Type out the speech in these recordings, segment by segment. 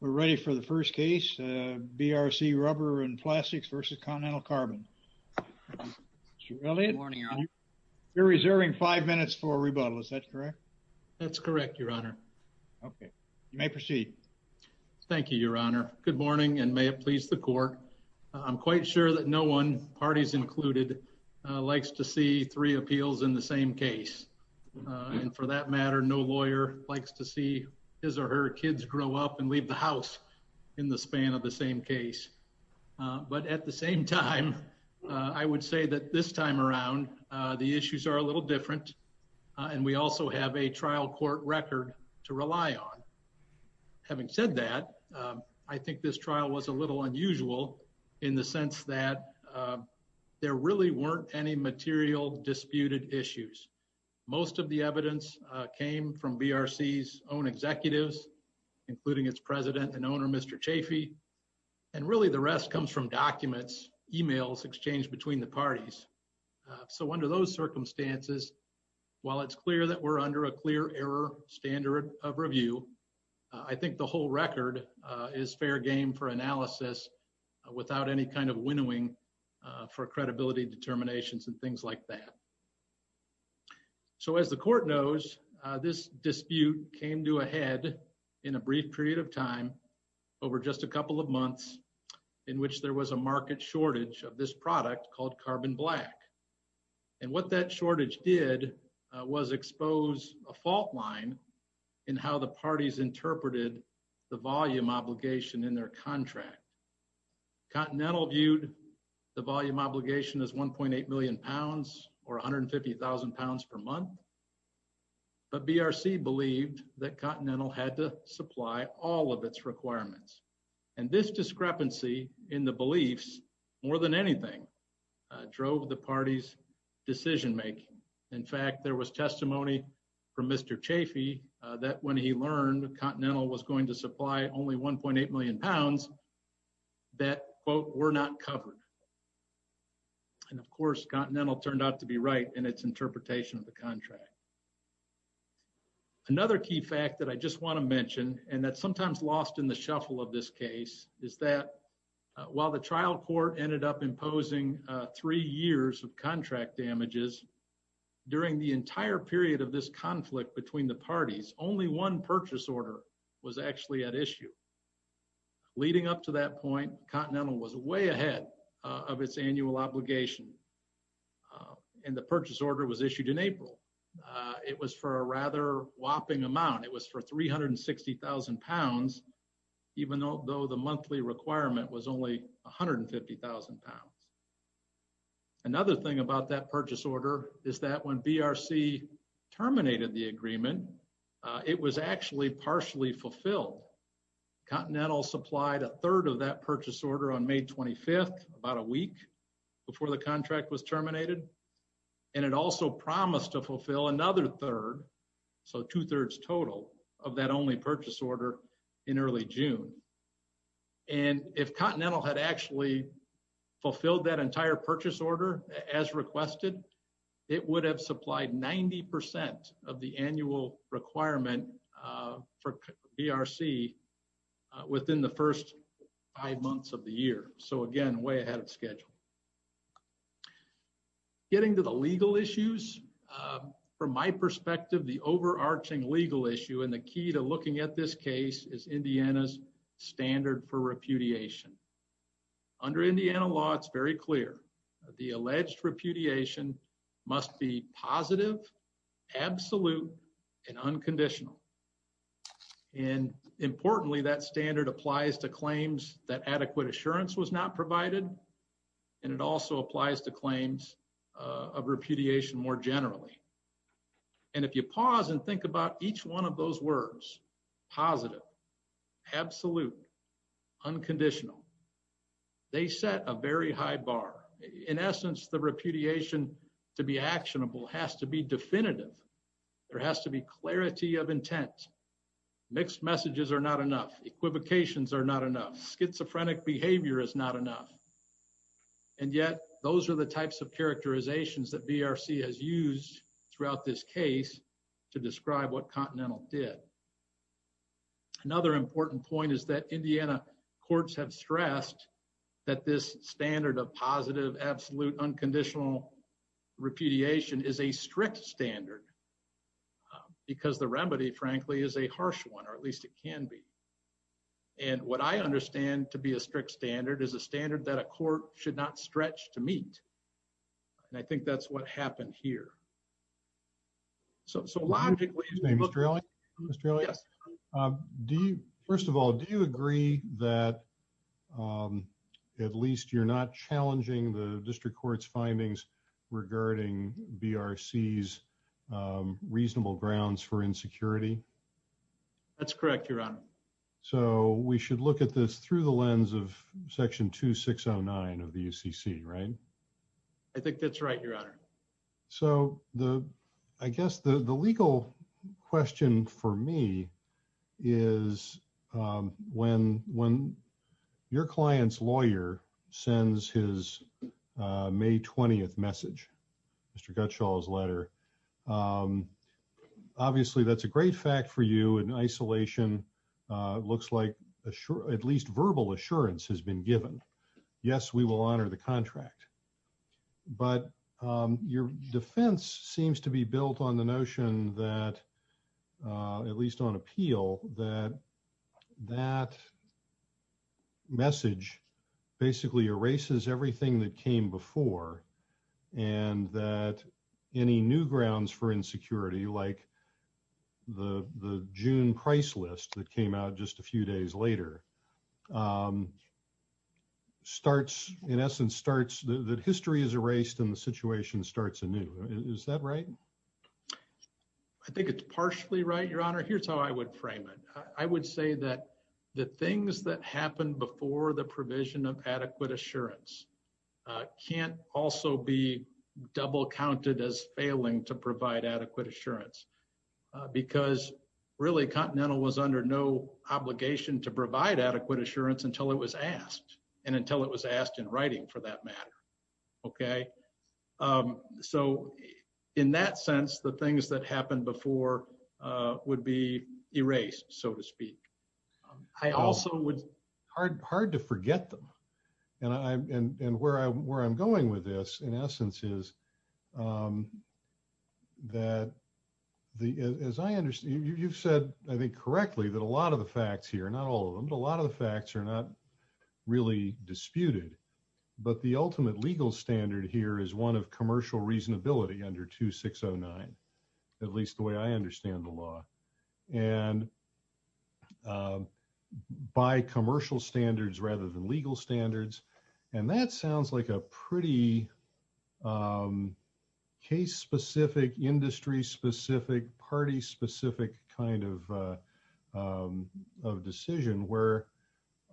We're ready for the first case, BRC Rubber & Plastics versus Continental Carbon. You're reserving five minutes for rebuttal. Is that correct? That's correct, Your Honor. Okay, you may proceed. Thank you, Your Honor. Good morning, and may it please the court. I'm quite sure that no one, parties included, likes to see three appeals in the same case. And for that matter, no one would leave the house in the span of the same case. But at the same time, I would say that this time around, the issues are a little different. And we also have a trial court record to rely on. Having said that, I think this trial was a little unusual, in the sense that there really weren't any material disputed issues. Most of the evidence came from BRC's own executives, including its president and owner, Mr. Chaffee. And really, the rest comes from documents, emails exchanged between the parties. So under those circumstances, while it's clear that we're under a clear error standard of review, I think the whole record is fair game for analysis without any kind of winnowing for credibility determinations and things like that. So as the court knows, this dispute came to a head in a brief period of time, over just a couple of months, in which there was a market shortage of this product called Carbon Black. And what that shortage did was expose a fault line in how the parties interpreted the volume obligation in their contract. Continental viewed the volume obligation as 1.8 million pounds or 150,000 pounds per month. But BRC believed that Continental had to supply all of its requirements. And this discrepancy in the beliefs, more than anything, drove the party's decision making. In fact, there was testimony from Mr. Chaffee that when he learned Continental was going to supply only 1.8 million pounds, that quote, were not covered. And of course, Continental turned out to be right in its interpretation of the contract. Another key fact that I just want to mention, and that's sometimes lost in the shuffle of this case, is that while the trial court ended up imposing three years of contract damages, during the entire period of this conflict between the parties, only one purchase order was actually at issue. Leading up to that point, Continental was way ahead of its annual obligation. And the purchase order was issued in April. It was for a rather whopping amount, it was for 360,000 pounds, even though the monthly requirement was only 150,000 pounds. Another thing about that purchase order is that when BRC terminated the agreement, it was actually partially fulfilled. Continental supplied a third of that purchase order on May 25th, about a week before the contract was terminated. And it also promised to fulfill another third, so two thirds total of that only purchase order in early June. And if Continental had actually fulfilled that entire purchase order as requested, it would have supplied 90% of the annual requirement for BRC within the first five months of the year. So again, way ahead of schedule. Getting to the legal issues, from my perspective, the overarching legal issue and the key to looking at this case is Indiana's standard for repudiation. Under Indiana law, it's very clear that the alleged repudiation must be positive, absolute, and unconditional. And importantly, that standard applies to claims that adequate assurance was not provided, and it also applies to claims of repudiation more generally. And if you pause and think about each one of those words, positive, absolute, unconditional, they set a very high bar. In essence, the repudiation to be actionable has to be definitive. There has to be clarity of intent. Mixed messages are not enough. Equivocations are not enough. Schizophrenic behavior is not enough. And yet, those are the types of characterizations that BRC has used throughout this case to describe what Continental did. Another important point is that Indiana courts have stressed that this standard of positive, absolute, unconditional repudiation is a strict standard, because the remedy, frankly, is a harsh one, or at least it can be. And what I understand to be a strict standard is a standard that a court should not stretch to meet. And I think that's what happened here. So, logically... Mr. Australia? Yes. First of all, do you agree that at least you're not challenging the district court's findings regarding BRC's reasonable grounds for insecurity? That's correct, Your Honor. So, we should look at this through the lens of Section 2609 of the UCC, right? I think that's right, Your Honor. So, I guess the legal question for me is, when your client's lawyer sends his May 20th message, Mr. Gutschall's letter, obviously that's a great fact for you. In isolation, it looks like at least verbal assurance has been given. Yes, we will honor the contract, but your defense seems to be built on the notion that, at least on appeal, that that message basically erases everything that came before and that any new grounds for insecurity, like the June price list that came out just a few days later, in essence starts... that history is erased and the situation starts anew. Is that right? I think it's partially right, Your Honor. Here's how I would frame it. I would say that the things that happened before the provision of adequate assurance can't also be double counted as failing to provide adequate assurance because really Continental was under no obligation to provide adequate assurance until it was asked and until it was asked in that matter. So, in that sense, the things that happened before would be erased, so to speak. I also would... Hard to forget them and where I'm going with this, in essence, is that as I understand, you've said, I think correctly, that a lot of the facts here, not all of them, but a lot of the facts are not really disputed, but the ultimate legal standard here is one of commercial reasonability under 2609, at least the way I understand the law, and by commercial standards rather than legal standards, and that sounds like a pretty case-specific, industry-specific, party-specific kind of decision where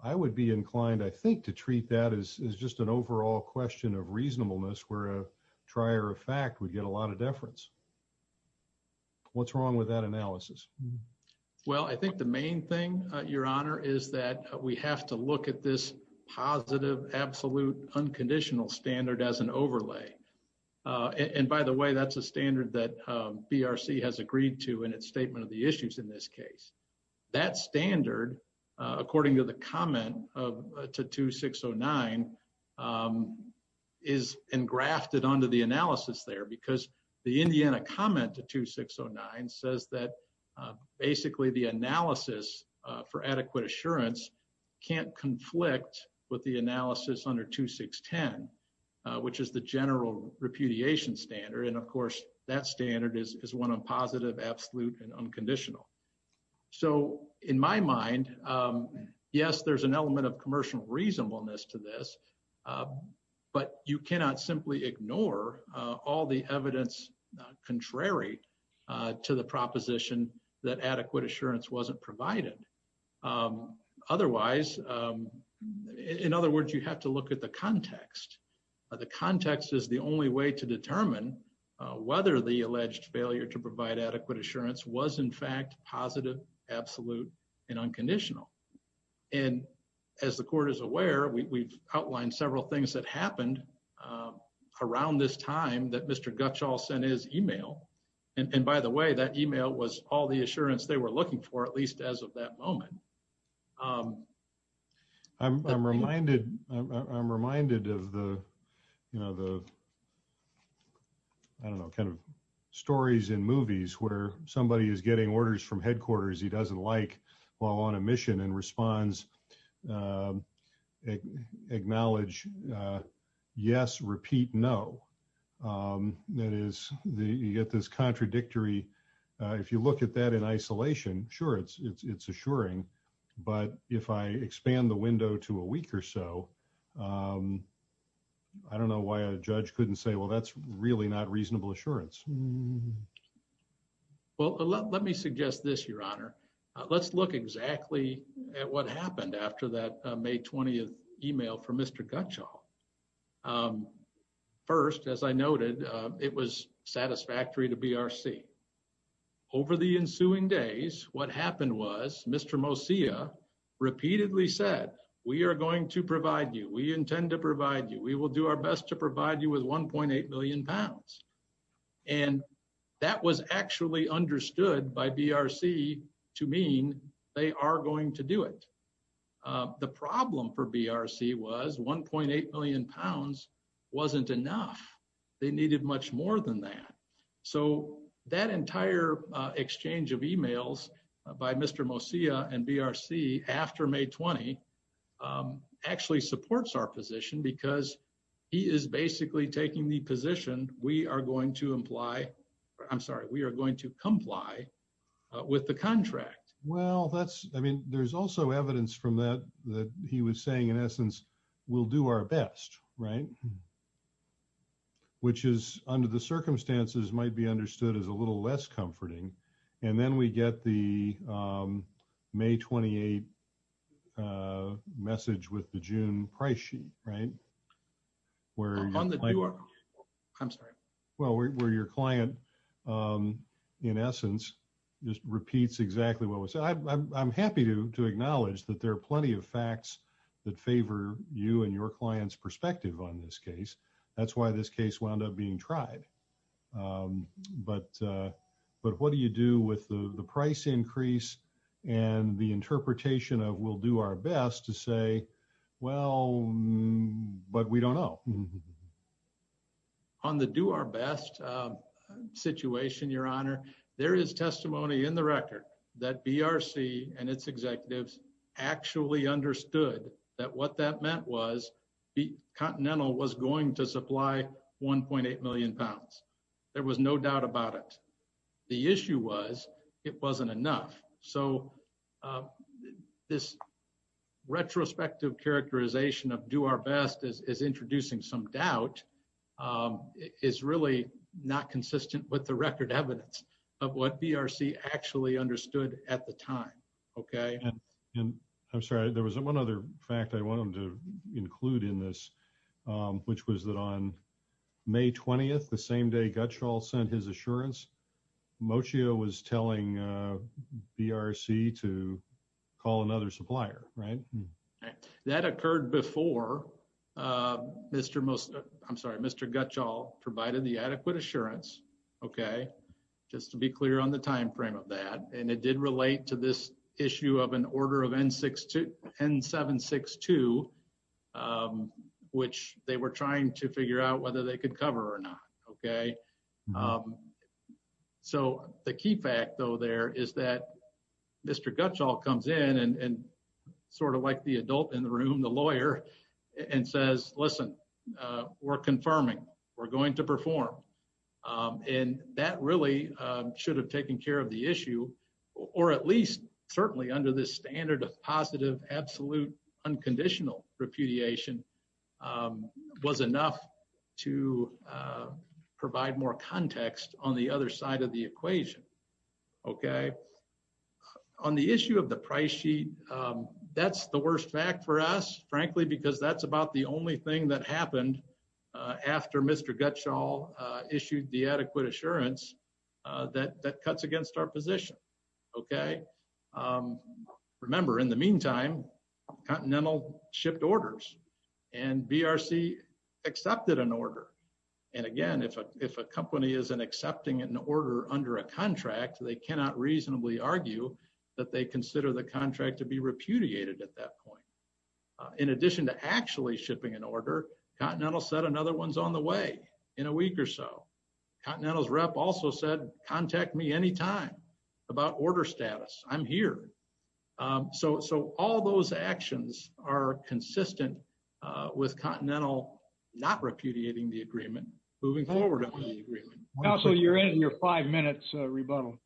I would be inclined, I think, to treat that as just an overall question of reasonableness where a trier of fact would get a lot of deference. What's wrong with that analysis? Well, I think the main thing, Your Honor, is that we have to look at this positive, absolute, unconditional standard as an overlay, and by the way, that's a standard that BRC has agreed to in its statement of the issues in this case. That standard, according to the comment of 2609, is engrafted onto the analysis there because the Indiana comment to 2609 says that basically the analysis for adequate assurance can't conflict with the analysis under 2610, which is the general repudiation standard, and of course that standard is one of positive, absolute, and unconditional. So in my mind, yes, there's an element of commercial reasonableness to this, but you cannot simply ignore all the evidence contrary to the proposition that adequate assurance wasn't provided. Otherwise, in other words, you have to look at the context. The context is the only way to determine whether the alleged failure to provide adequate assurance was in fact positive, absolute, and unconditional, and as the Court is aware, we've outlined several things that happened around this time that Mr. Gutschall sent his email, and by the way, that email was all the way to that moment. I'm reminded of the, you know, the, I don't know, kind of stories in movies where somebody is getting orders from headquarters he doesn't like while on a mission and responds, acknowledge, yes, repeat, no. That is, you get this contradictory, if you look at that in isolation, sure, it's assuring, but if I expand the window to a week or so, I don't know why a judge couldn't say, well, that's really not reasonable assurance. Well, let me suggest this, Your Honor. Let's look exactly at what happened after that May 20th email from Mr. Gutschall. First, as I noted, it was satisfactory to BRC. Over the ensuing days, what happened was Mr. Mosia repeatedly said, we are going to provide you, we intend to provide you, we will do our best to provide you with 1.8 million pounds, and that was actually understood by BRC to mean they are going to do it. The problem for BRC was 1.8 million pounds wasn't enough. They needed much more than that. So that entire exchange of emails by Mr. Mosia and BRC after May 20th actually supports our position because he is basically taking the position we are going to imply, I'm sorry, we are going to comply with the contract. Well, that's, I mean, there's also evidence from that that he was saying, in essence, we'll do our best, right, which is, under the circumstances, might be understood as a little less comforting, and then we get the May 28th message with the June price sheet, right, where I'm sorry, well, where your client, in essence, just repeats exactly what we said. I'm happy to acknowledge that there are plenty of facts that favor you and your client's perspective on this case. That's why this case wound up being tried. But what do you do with the price increase and the interpretation of we'll do our best to say, well, but we don't know. On the do our best situation, your honor, there is testimony in the record that BRC and its executives actually understood that what that meant was the Continental was going to supply 1.8 million pounds. There was no doubt about it. The issue was it wasn't enough. So this retrospective characterization of do our best is introducing some doubt. It's really not consistent with the record evidence of what BRC actually understood at the time, okay. And I'm sorry, there was one other fact I wanted to include in this, which was that on May 20th, the same day Gutschall sent his assurance, Mocio was telling BRC to call another supplier, right. That occurred before Mr. Mocio, I'm sorry, Mr. Gutschall provided the adequate assurance, okay, just to be clear on the time frame of that. And it did relate to this issue of an order of N762, which they were trying to figure out whether they could cover or not, okay. So the key fact though there is that Mr. Gutschall comes in and sort of like the adult in the room, the lawyer, and says, listen, we're confirming. We're going to perform. And that really should have taken care of the issue or at least certainly under this standard of positive, absolute, unconditional repudiation was enough to provide more context on the other side of the equation, okay. On the issue of the price sheet, that's the worst fact for us, frankly, because that's about the only thing that happened after Mr. Gutschall issued the adequate assurance that cuts against our position, okay. Remember, in the meantime, Continental shipped orders and BRC accepted an order. And again, if a company isn't accepting an order under a contract, they cannot reasonably argue that they consider the contract to be repudiated at that point. In addition to actually shipping an order, Continental said another one's on the way in a week or so. Continental's rep also said contact me any time about order status. I'm here. So all those actions are consistent with Continental not repudiating the agreement moving forward. Counsel, you're in your five minutes rebuttal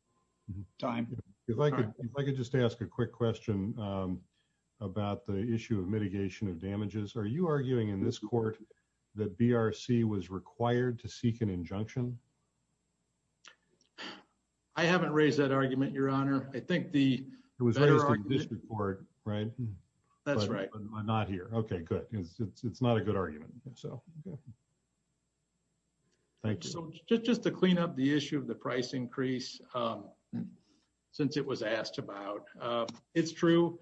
time. If I could just ask a quick question about the issue of mitigation of injunction. I haven't raised that argument, your honor. I think the... It was raised in the district court, right? That's right. Not here. Okay, good. It's not a good argument. So thank you. So just to clean up the issue of the price increase since it was asked about. It's true.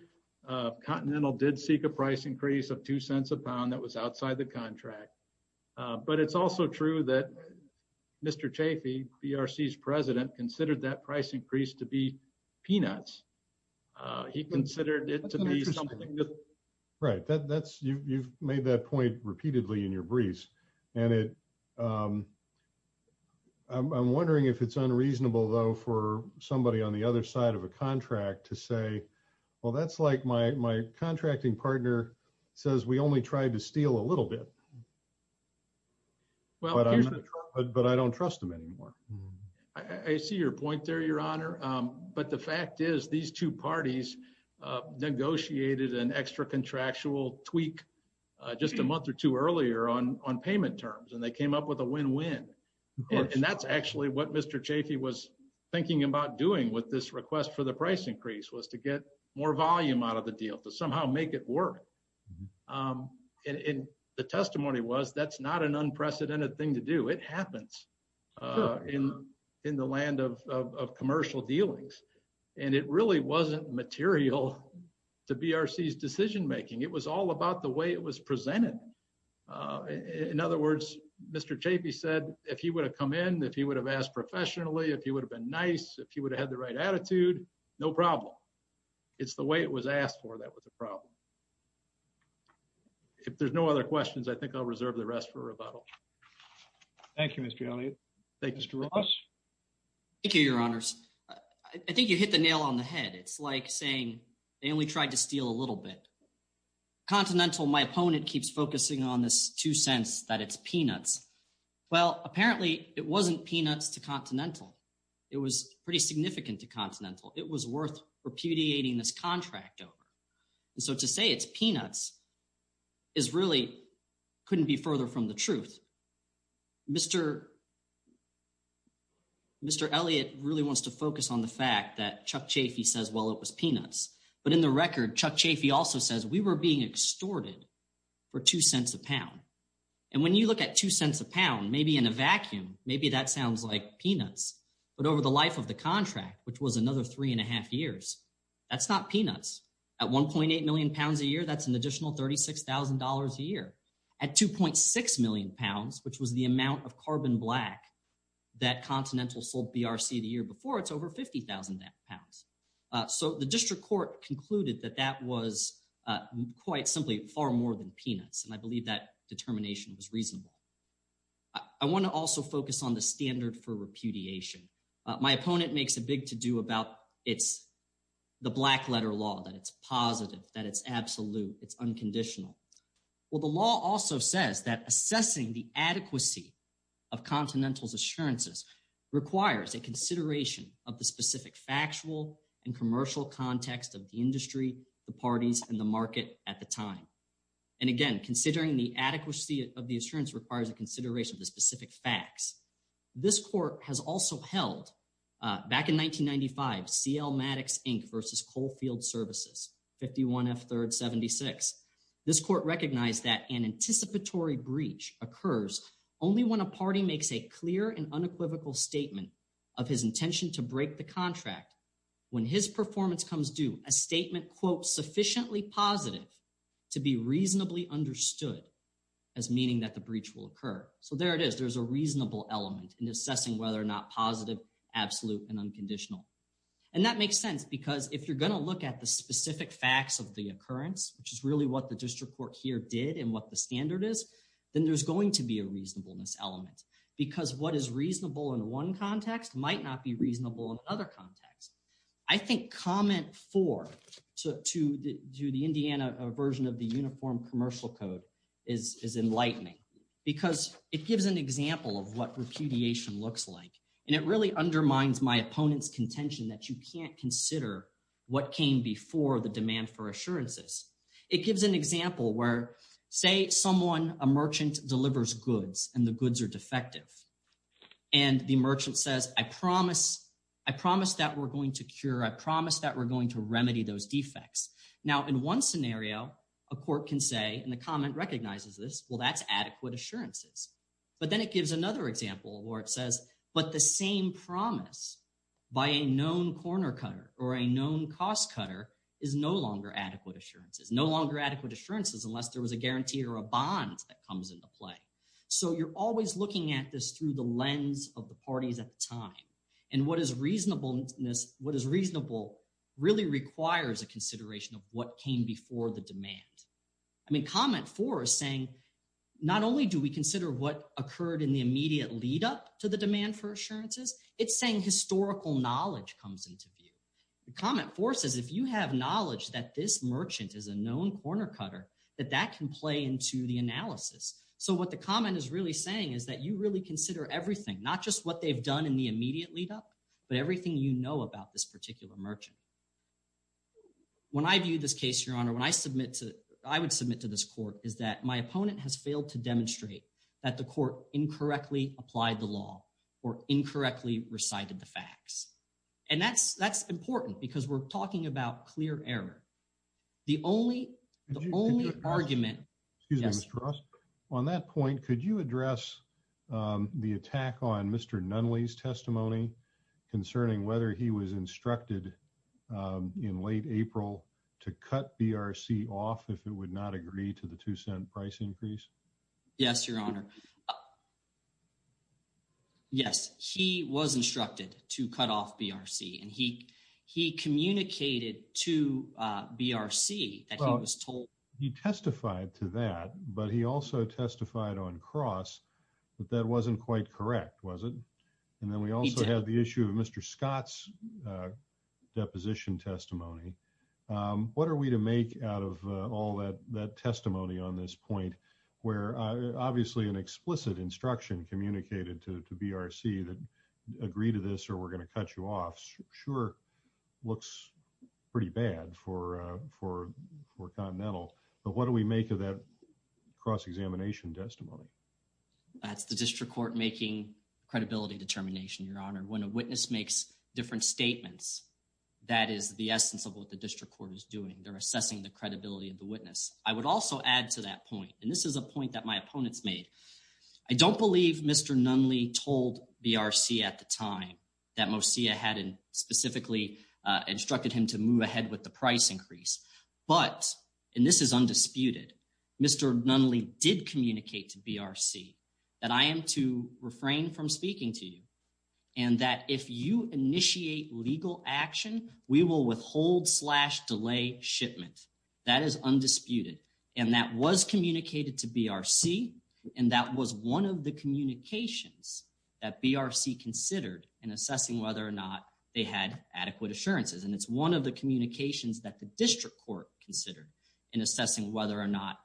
Continental did seek a price increase of two cents a pound that was outside the contract. But it's also true that Mr. Chaffee, BRC's president, considered that price increase to be peanuts. He considered it to be something that... Right. That's... You've made that point repeatedly in your briefs and it... I'm wondering if it's unreasonable though for somebody on the other side of a contract to say, well that's like my contracting partner says we only tried to steal a little bit. But I don't trust them anymore. I see your point there, your honor. But the fact is these two parties negotiated an extra contractual tweak just a month or two earlier on payment terms and they came up with a win-win. And that's actually what Mr. Chaffee was thinking about doing with this request for the price increase was to get more volume out of the deal to somehow make it work. And the testimony was that's not an unprecedented thing to do. It happens in the land of commercial dealings. And it really wasn't material to BRC's decision making. It was all about the way it was presented. In other words, Mr. Chaffee said if he would have come in, if he would have asked professionally, if he would have been nice, if he would have had the right attitude, no problem. It's the way it was asked for that was a problem. If there's no other questions, I think I'll reserve the rest for rebuttal. Thank you, Mr. Elliott. Thank you, Mr. Ross. Thank you, your honors. I think you hit the nail on the head. It's like saying they only tried to steal a little bit. Continental, my opponent, keeps focusing on this two cents that it's peanuts. Well, apparently it wasn't peanuts to It was worth repudiating this contract over. And so to say it's peanuts is really couldn't be further from the truth. Mr. Elliott really wants to focus on the fact that Chuck Chaffee says, well, it was peanuts. But in the record, Chuck Chaffee also says we were being extorted for two cents a pound. And when you look at two cents a pound, maybe in a vacuum, maybe that sounds like peanuts. But over the life of the contract, which was another three and a half years, that's not peanuts. At 1.8 million pounds a year, that's an additional $36,000 a year. At 2.6 million pounds, which was the amount of carbon black that Continental sold BRC the year before, it's over 50,000 pounds. So the district court concluded that that was quite simply far more than peanuts. And I believe that determination was reasonable. I want to also focus on the standard for it's the black letter law, that it's positive, that it's absolute, it's unconditional. Well, the law also says that assessing the adequacy of Continental's assurances requires a consideration of the specific factual and commercial context of the industry, the parties and the market at the time. And again, considering the adequacy of the assurance requires a consideration of the specific facts. This court has also held back in 1895, C.L. Maddox, Inc. versus Coalfield Services, 51 F. 3rd, 76. This court recognized that an anticipatory breach occurs only when a party makes a clear and unequivocal statement of his intention to break the contract. When his performance comes due, a statement, quote, sufficiently positive to be reasonably understood as meaning that the breach will occur. So there it is. There's a reasonable element in assessing whether or not positive, absolute, and unconditional. And that makes sense because if you're going to look at the specific facts of the occurrence, which is really what the district court here did and what the standard is, then there's going to be a reasonableness element because what is reasonable in one context might not be reasonable in other contexts. I think comment four to the Indiana version of the Uniform Commercial Code is enlightening because it gives an example where, say, someone, a merchant, delivers goods and the goods are defective. And the merchant says, I promise that we're going to cure, I promise that we're going to remedy those defects. Now, in one scenario, a court can say, and the comment recognizes this, well, that's adequate assurances. But then it gives another example where but the same promise by a known corner cutter or a known cost cutter is no longer adequate assurances, no longer adequate assurances unless there was a guarantee or a bond that comes into play. So you're always looking at this through the lens of the parties at the time. And what is reasonableness, what is reasonable, really requires a consideration of what came before the demand. I mean, comment four is saying, not only do we consider what occurred in the immediate lead-up to the demand for assurances, it's saying historical knowledge comes into view. The comment four says, if you have knowledge that this merchant is a known corner cutter, that that can play into the analysis. So what the comment is really saying is that you really consider everything, not just what they've done in the immediate lead-up, but everything you know about this particular merchant. When I view this case, Your Honor, when I submit to, I would submit to this court, is that my opponent has failed to demonstrate that the court incorrectly applied the law or incorrectly recited the facts. And that's, that's important because we're talking about clear error. The only, the only argument... Excuse me, Mr. Ross. On that point, could you address the attack on Mr. Nunley's testimony concerning whether he was instructed in late April to cut BRC off if it would not agree to the two-cent price increase? Yes, Your Honor. Yes, he was instructed to cut off BRC and he he communicated to BRC that he was told... He testified to that, but he also testified on cross that that wasn't quite correct, was it? And then we also have the issue of Mr. Scott's testimony. What are we to make out of all that that testimony on this point where obviously an explicit instruction communicated to to BRC that agree to this or we're going to cut you off? Sure, looks pretty bad for Continental, but what do we make of that cross-examination testimony? When a witness makes different statements, that is the essence of what the district court is doing. They're assessing the credibility of the witness. I would also add to that point, and this is a point that my opponents made. I don't believe Mr. Nunley told BRC at the time that MOSIA hadn't specifically instructed him to move ahead with the price increase. But, and this is undisputed, Mr. Nunley did communicate to BRC that I am to refrain from speaking to you and that if you initiate legal action we will withhold slash delay shipment. That is undisputed and that was communicated to BRC and that was one of the communications that BRC considered in assessing whether or not they had adequate assurances. And it's one of the communications that the district court considered in assessing whether or not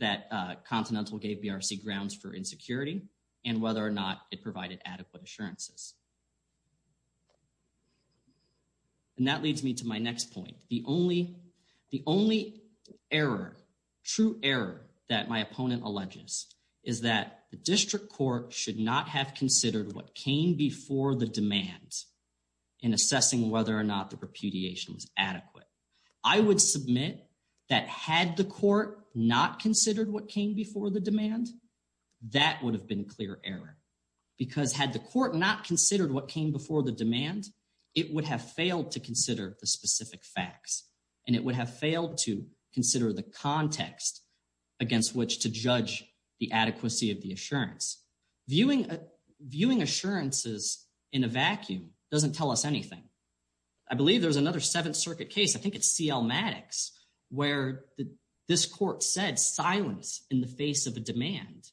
that Continental gave BRC grounds for insecurity and whether or not it had adequate assurances. And that leads me to my next point. The only error, true error that my opponent alleges is that the district court should not have considered what came before the demand in assessing whether or not the repudiation was adequate. I would submit that had the court not considered what came before the demand, that would have been clear error because had the court not considered what came before the demand it would have failed to consider the specific facts and it would have failed to consider the context against which to judge the adequacy of the assurance. Viewing assurances in a vacuum doesn't tell us anything. I believe there's another Seventh Circuit case, I think it's C.L. Maddox, where this court said silence in the face of a demand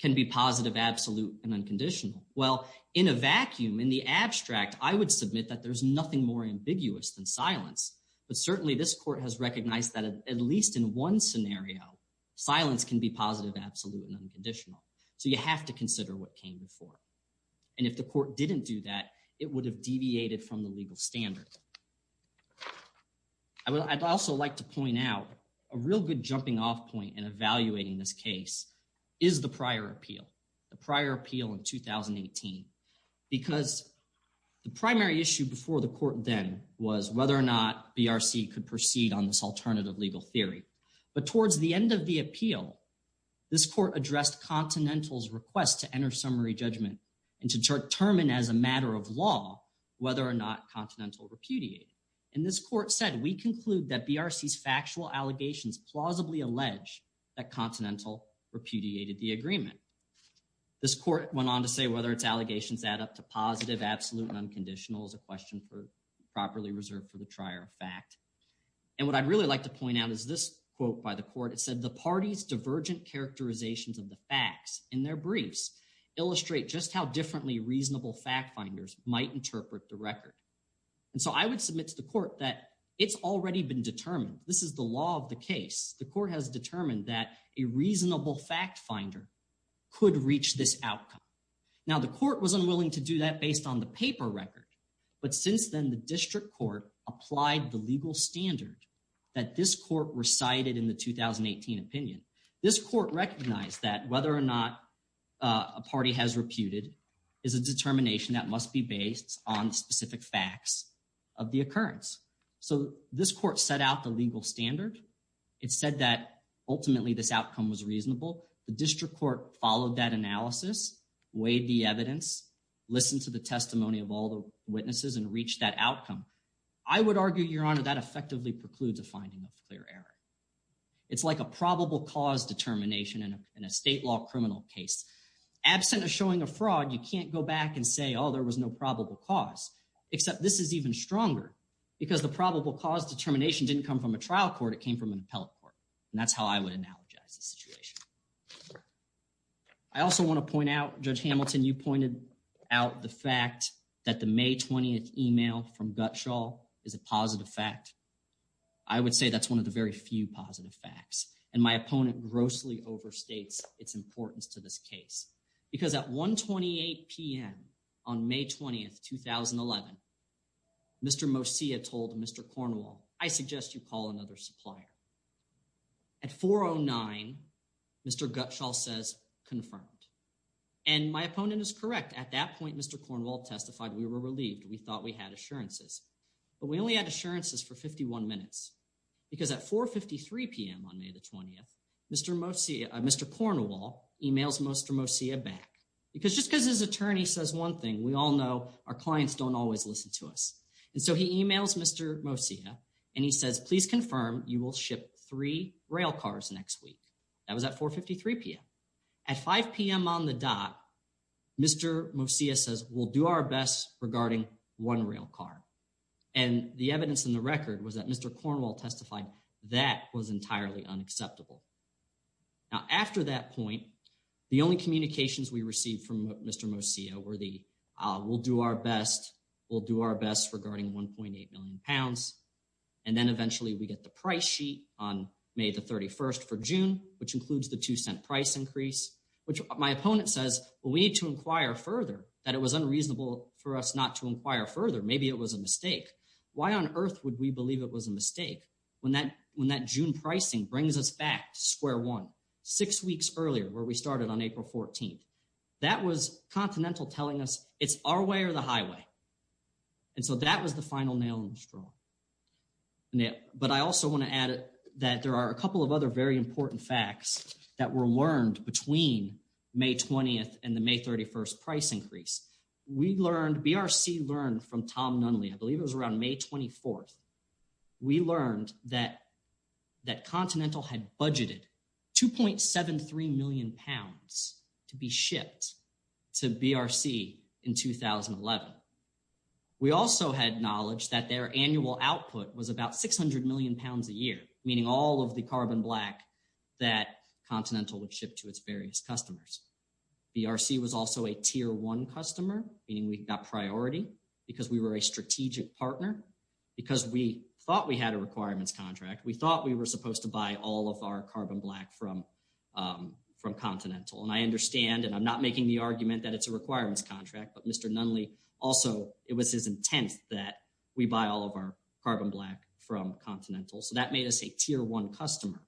can be positive, absolute, and unconditional. Well, in a vacuum, in the abstract, I would submit that there's nothing more ambiguous than silence but certainly this court has recognized that at least in one scenario silence can be positive, absolute, and unconditional. So you have to consider what came before and if the court didn't do that it would have deviated from the legal standard. I'd also like to point out a real good jumping off point in evaluating this case is the prior appeal, the prior appeal in 2018 because the primary issue before the court then was whether or not BRC could proceed on this alternative legal theory but towards the end of the appeal this court addressed Continental's request to enter summary judgment and to determine as a matter of law whether or not Continental repudiated and this court said we conclude that Continental repudiated the agreement. This court went on to say whether its allegations add up to positive, absolute, and unconditional is a question for properly reserved for the trier of fact and what I'd really like to point out is this quote by the court it said the party's divergent characterizations of the facts in their briefs illustrate just how differently reasonable fact finders might interpret the record and so I would submit to the court that it's already been determined this is the case the court has determined that a reasonable fact finder could reach this outcome now the court was unwilling to do that based on the paper record but since then the district court applied the legal standard that this court recited in the 2018 opinion this court recognized that whether or not a party has reputed is a determination that must be based on specific facts of the occurrence so this court set out the legal standard it said that ultimately this outcome was reasonable the district court followed that analysis weighed the evidence listened to the testimony of all the witnesses and reached that outcome I would argue your honor that effectively precludes a finding of clear error it's like a probable cause determination in a state law criminal case absent of showing a fraud you can't go back and say oh there was no probable cause except this is even stronger because the probable cause determination didn't come from a trial court it came from an appellate court and that's how I would analogize the situation I also want to point out Judge Hamilton you pointed out the fact that the May 20th email from Gutshall is a positive fact I would say that's one of the very few positive facts and my opponent grossly overstates its importance to this case because at 1 28 p.m on May 20th 2011 Mr. Mosia told Mr. Cornwall I suggest you call another supplier at 409 Mr. Gutshall says confirmed and my opponent is correct at that point Mr. Cornwall testified we were relieved we thought we had assurances but we only had assurances for 51 minutes because at 4 53 p.m on May the 20th Mr. Mosia Mr. Cornwall emails Mr. Mosia back because just because his attorney says one thing we all know our clients don't always listen to us and so he emails Mr. Mosia and he says please confirm you will ship three rail cars next week that was at 4 53 p.m at 5 p.m on the dot Mr. Mosia says we'll do our best regarding one rail car and the evidence in the record was that Mr. Cornwall testified that was entirely unacceptable now after that point the only communications we received from Mr. Mosia were the we'll do our best we'll do our best regarding 1.8 million pounds and then eventually we get the price sheet on May the 31st for June which includes the two cent price increase which my opponent says well we need to inquire further that it was unreasonable for us not to inquire further maybe it was a mistake why on earth would we believe it was a mistake when that when that June pricing brings us back square one six weeks earlier where we started on April 14th that was Continental telling us it's our way or the highway and so that was the final nail in the straw but I also want to add that there are a couple of other very important facts that were learned between May 20th and the May 31st price increase we learned BRC learned from Tom Nunley I believe it was around May 24th we learned that that Continental had budgeted 2.73 million pounds to be shipped to BRC in 2011 we also had knowledge that their annual output was about 600 million pounds a year meaning all of the carbon black that Continental would ship to its various customers BRC was also a tier one customer meaning we got priority because we were a strategic partner because we thought we had a requirements contract we thought we were supposed to buy all of our carbon black from um from Continental and I understand and I'm not making the argument that it's a requirements contract but Mr. Nunley also it was his intent that we buy all of our carbon black from Continental so that made us a tier one customer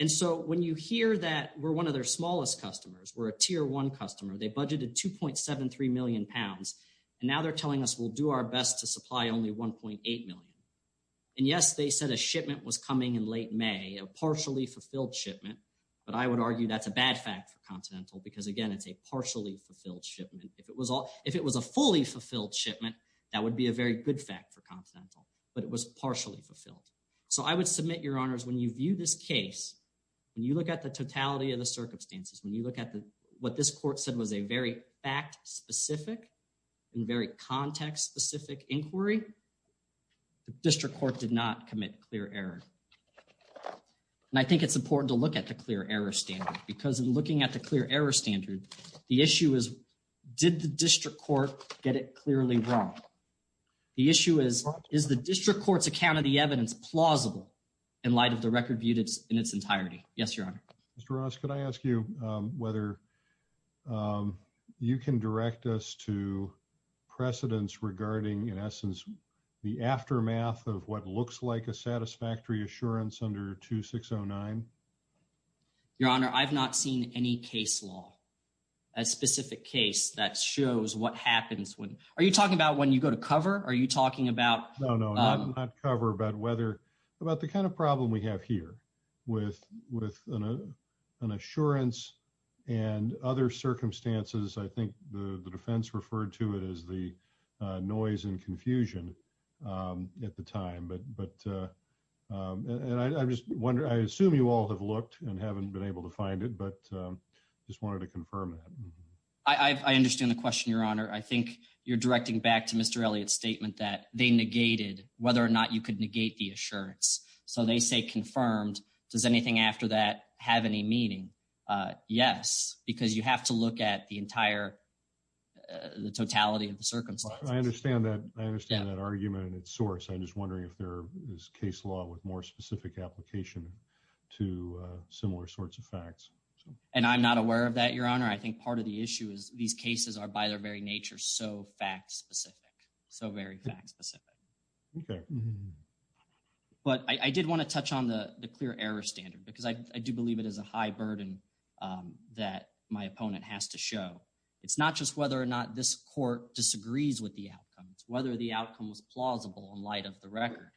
and so when you hear that we're one of their smallest customers we're a tier one customer they budgeted 2.73 million pounds and now they're telling us we'll do our best to supply only 1.8 million and yes they said a shipment was coming in late May a partially fulfilled shipment but I would argue that's a bad fact for Continental because again it's a partially fulfilled shipment if it was all if it was a fully fulfilled shipment that would be a very good fact for Continental but it was partially fulfilled so I would submit your honors when you view this case when you look at the totality of the circumstances when you look at the what this court said was a very fact specific and very context specific inquiry the district court did not commit clear error and I think it's important to look at the clear error standard because in looking at the clear error standard the issue is did the district court get it clearly wrong the issue is is the district court's account of the evidence plausible in light of the record viewed in its entirety yes your honor Mr. Ross could I ask you um whether um you can direct us to precedents regarding in essence the aftermath of what looks like a satisfactory assurance under 2609 your honor I've not seen any case law a specific case that shows what happens when are you talking about when you go to cover are you talking about no no not cover about whether about the kind of problem we have here with with an assurance and other circumstances I think the the defense referred to it as the noise and confusion at the time but but and I just wonder I assume you all have looked and haven't been able to find it but just wanted to confirm that I I understand the question your honor I think you're directing back to Mr. Elliott's statement that they negated whether or not you could negate the assurance so they say confirmed does anything after that have any meaning uh yes because you have to look at the entire the totality of the circumstances I understand that I understand that argument and its source I'm just wondering if there is case law with more specific application to similar sorts of facts and I'm not aware of that your honor I think part of the issue is these cases are by their very nature so fact specific so very fact specific okay but I did want to touch on the the clear error standard because I do believe it is a high burden that my opponent has to show it's not just whether or not this court disagrees with the outcomes whether the outcome was plausible in light of the record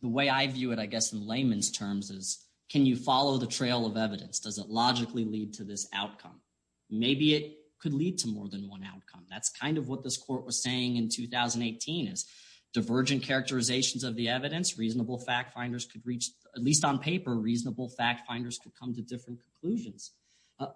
the way I view it I guess in layman's terms is can you follow the trail of evidence does it logically lead to this outcome maybe it could lead to more than one outcome that's kind of what this court was saying in 2018 is divergent characterizations of the evidence reasonable fact finders could reach at least on paper reasonable fact finders could come to different conclusions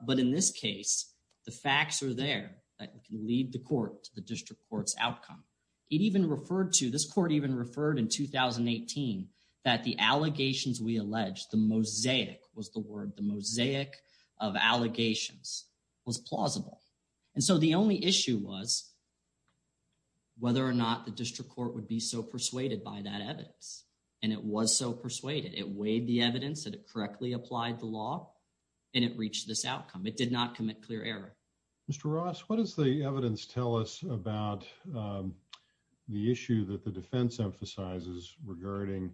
but in this case the facts are there that can lead the court to the district court's outcome it even referred to this court even referred in 2018 that the allegations we alleged the mosaic was the word the mosaic of allegations was plausible and so the only issue was whether or not the district court would be so persuaded by that evidence and it was so persuaded it weighed the evidence that it correctly applied the law and it reached this outcome it did not commit clear error Mr. Ross what does the evidence tell us about the issue that the defense emphasizes regarding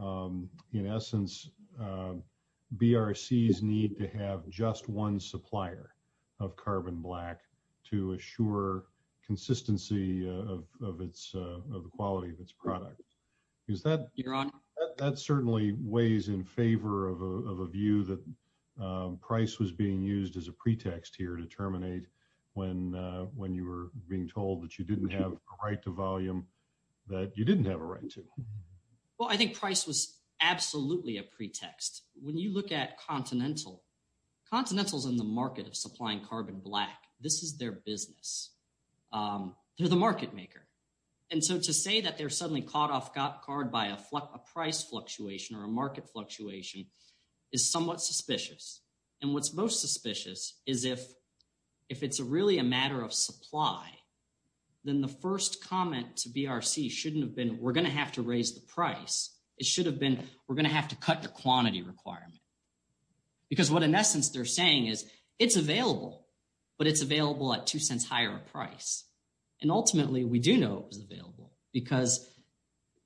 in essence BRC's need to have just one supplier of carbon black to assure consistency of of its of the quality of its product is that you're on that certainly weighs in favor of a view that price was being used as a pretext here to terminate when when you were being told that you didn't have a right to volume that you didn't have a right to well i think price was absolutely a pretext when you look at continental continentals in the market of supplying carbon black this is their business um they're the market maker and so to say that they're suddenly caught off guard by a price fluctuation or a market fluctuation is somewhat suspicious and what's most suspicious is if if it's a really a matter of been we're going to have to raise the price it should have been we're going to have to cut the quantity requirement because what in essence they're saying is it's available but it's available at two cents higher price and ultimately we do know it was available because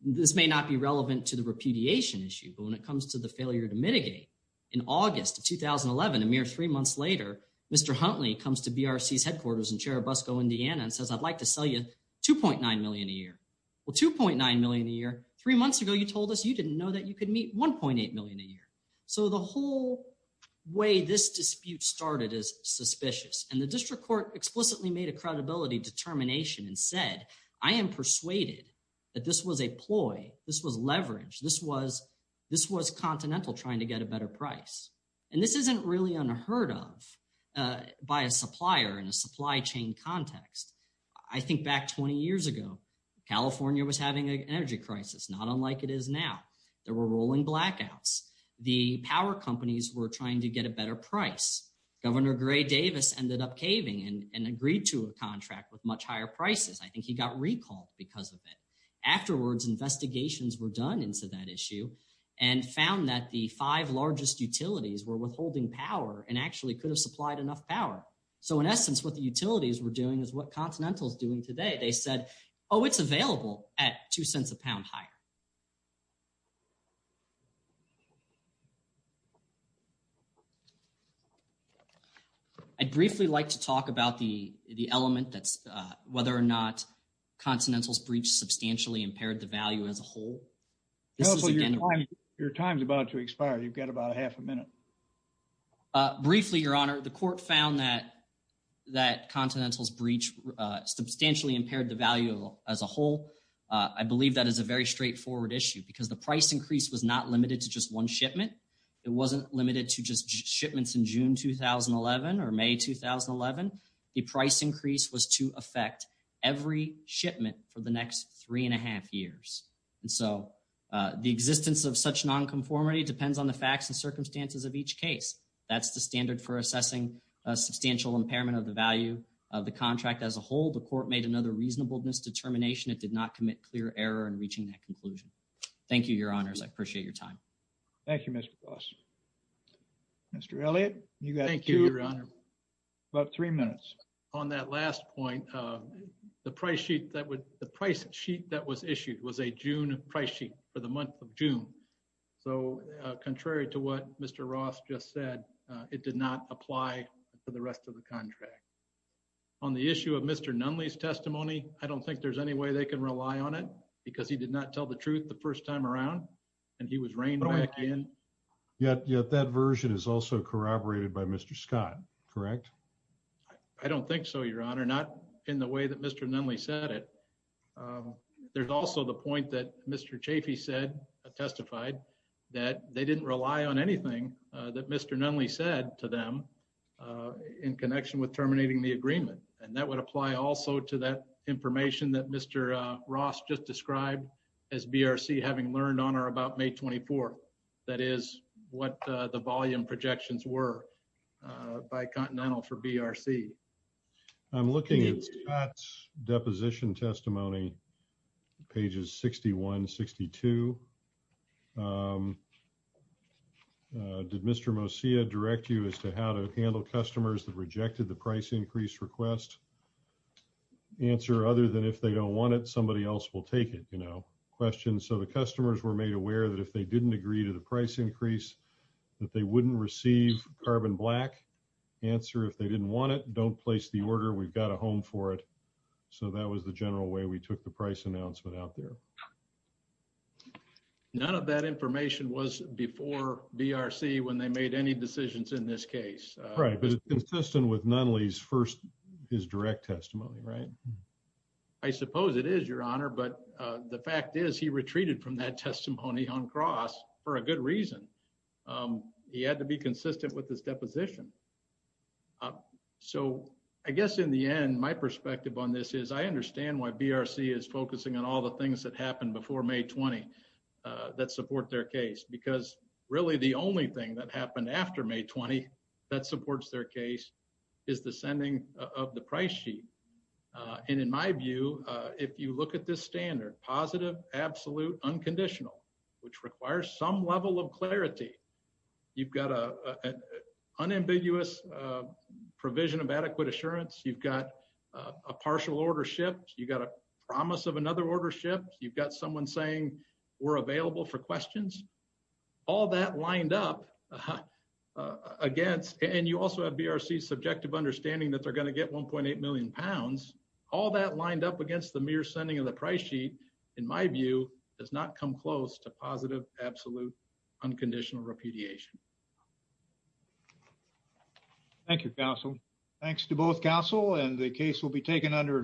this may not be relevant to the repudiation issue but when it comes to the failure to mitigate in august of 2011 a mere three months later Mr. Huntley comes to BRC's headquarters in cherubusco indiana and says i'd like to sell you 2.9 million a year well 2.9 million a year three months ago you told us you didn't know that you could meet 1.8 million a year so the whole way this dispute started is suspicious and the district court explicitly made a credibility determination and said i am persuaded that this was a ploy this was leverage this was this was continental trying to get a better price and this isn't really unheard of by a 20 years ago california was having an energy crisis not unlike it is now there were rolling blackouts the power companies were trying to get a better price governor gray davis ended up caving and agreed to a contract with much higher prices i think he got recalled because of it afterwards investigations were done into that issue and found that the five largest utilities were withholding power and actually could have supplied enough power so in essence what the utilities were doing is what continental is doing today they said oh it's available at two cents a pound higher i'd briefly like to talk about the the element that's whether or not continental's breach substantially impaired the value as a whole your time's about to expire you've got about a half a minute uh briefly your honor the court found that that continental's breach substantially impaired the value as a whole i believe that is a very straightforward issue because the price increase was not limited to just one shipment it wasn't limited to just shipments in june 2011 or may 2011 the price increase was to affect every shipment for the next three and a half years and so the existence of such non-conformity depends on the facts and circumstances of each case that's the standard for assessing a substantial impairment of the value of the contract as a whole the court made another reasonableness determination it did not commit clear error in reaching that conclusion thank you your honors i appreciate your time thank you mr boss mr elliott you got thank you your honor about three minutes on that last point uh the price sheet that would the price sheet that was issued was a june price sheet for the month of june so contrary to what mr ross just said it did not apply for the rest of the contract on the issue of mr nunley's testimony i don't think there's any way they can rely on it because he did not tell the truth the first time around and he was reigned back in yet yet that version is also corroborated by mr scott correct i don't think so your honor not in the way that mr nunley said it there's also the point that mr chafee said testified that they didn't rely on anything that mr nunley said to them in connection with terminating the agreement and that would apply also to that information that mr uh ross just described as brc having learned on or about may 24th that is what the volume projections were by continental for brc i'm looking at deposition testimony pages 61 62 did mr mosiah direct you as to how to handle customers that rejected the price increase request answer other than if they don't want it somebody else will take it you know questions so the customers were made aware that if they didn't agree to the price increase that they wouldn't receive carbon black answer if they didn't want it don't place the order we've got a home for it so that was the general way we took the price announcement out there none of that information was before brc when they made any decisions in this case right but it's consistent with nunley's first his direct testimony right i suppose it is your honor but uh the fact is he retreated from that testimony on cross for a good reason um he had to be i guess in the end my perspective on this is i understand why brc is focusing on all the things that happened before may 20 that support their case because really the only thing that happened after may 20 that supports their case is the sending of the price sheet and in my view if you look at this standard positive absolute unconditional which requires some level of clarity you've got a unambiguous provision of adequate assurance you've got a partial order shipped you got a promise of another order shipped you've got someone saying we're available for questions all that lined up against and you also have brc subjective understanding that they're going to get 1.8 million pounds all that lined up against the mere sending of the price sheet in my view does not come close to unconditional repudiation thank you counsel thanks to both counsel and the case will be taken under advice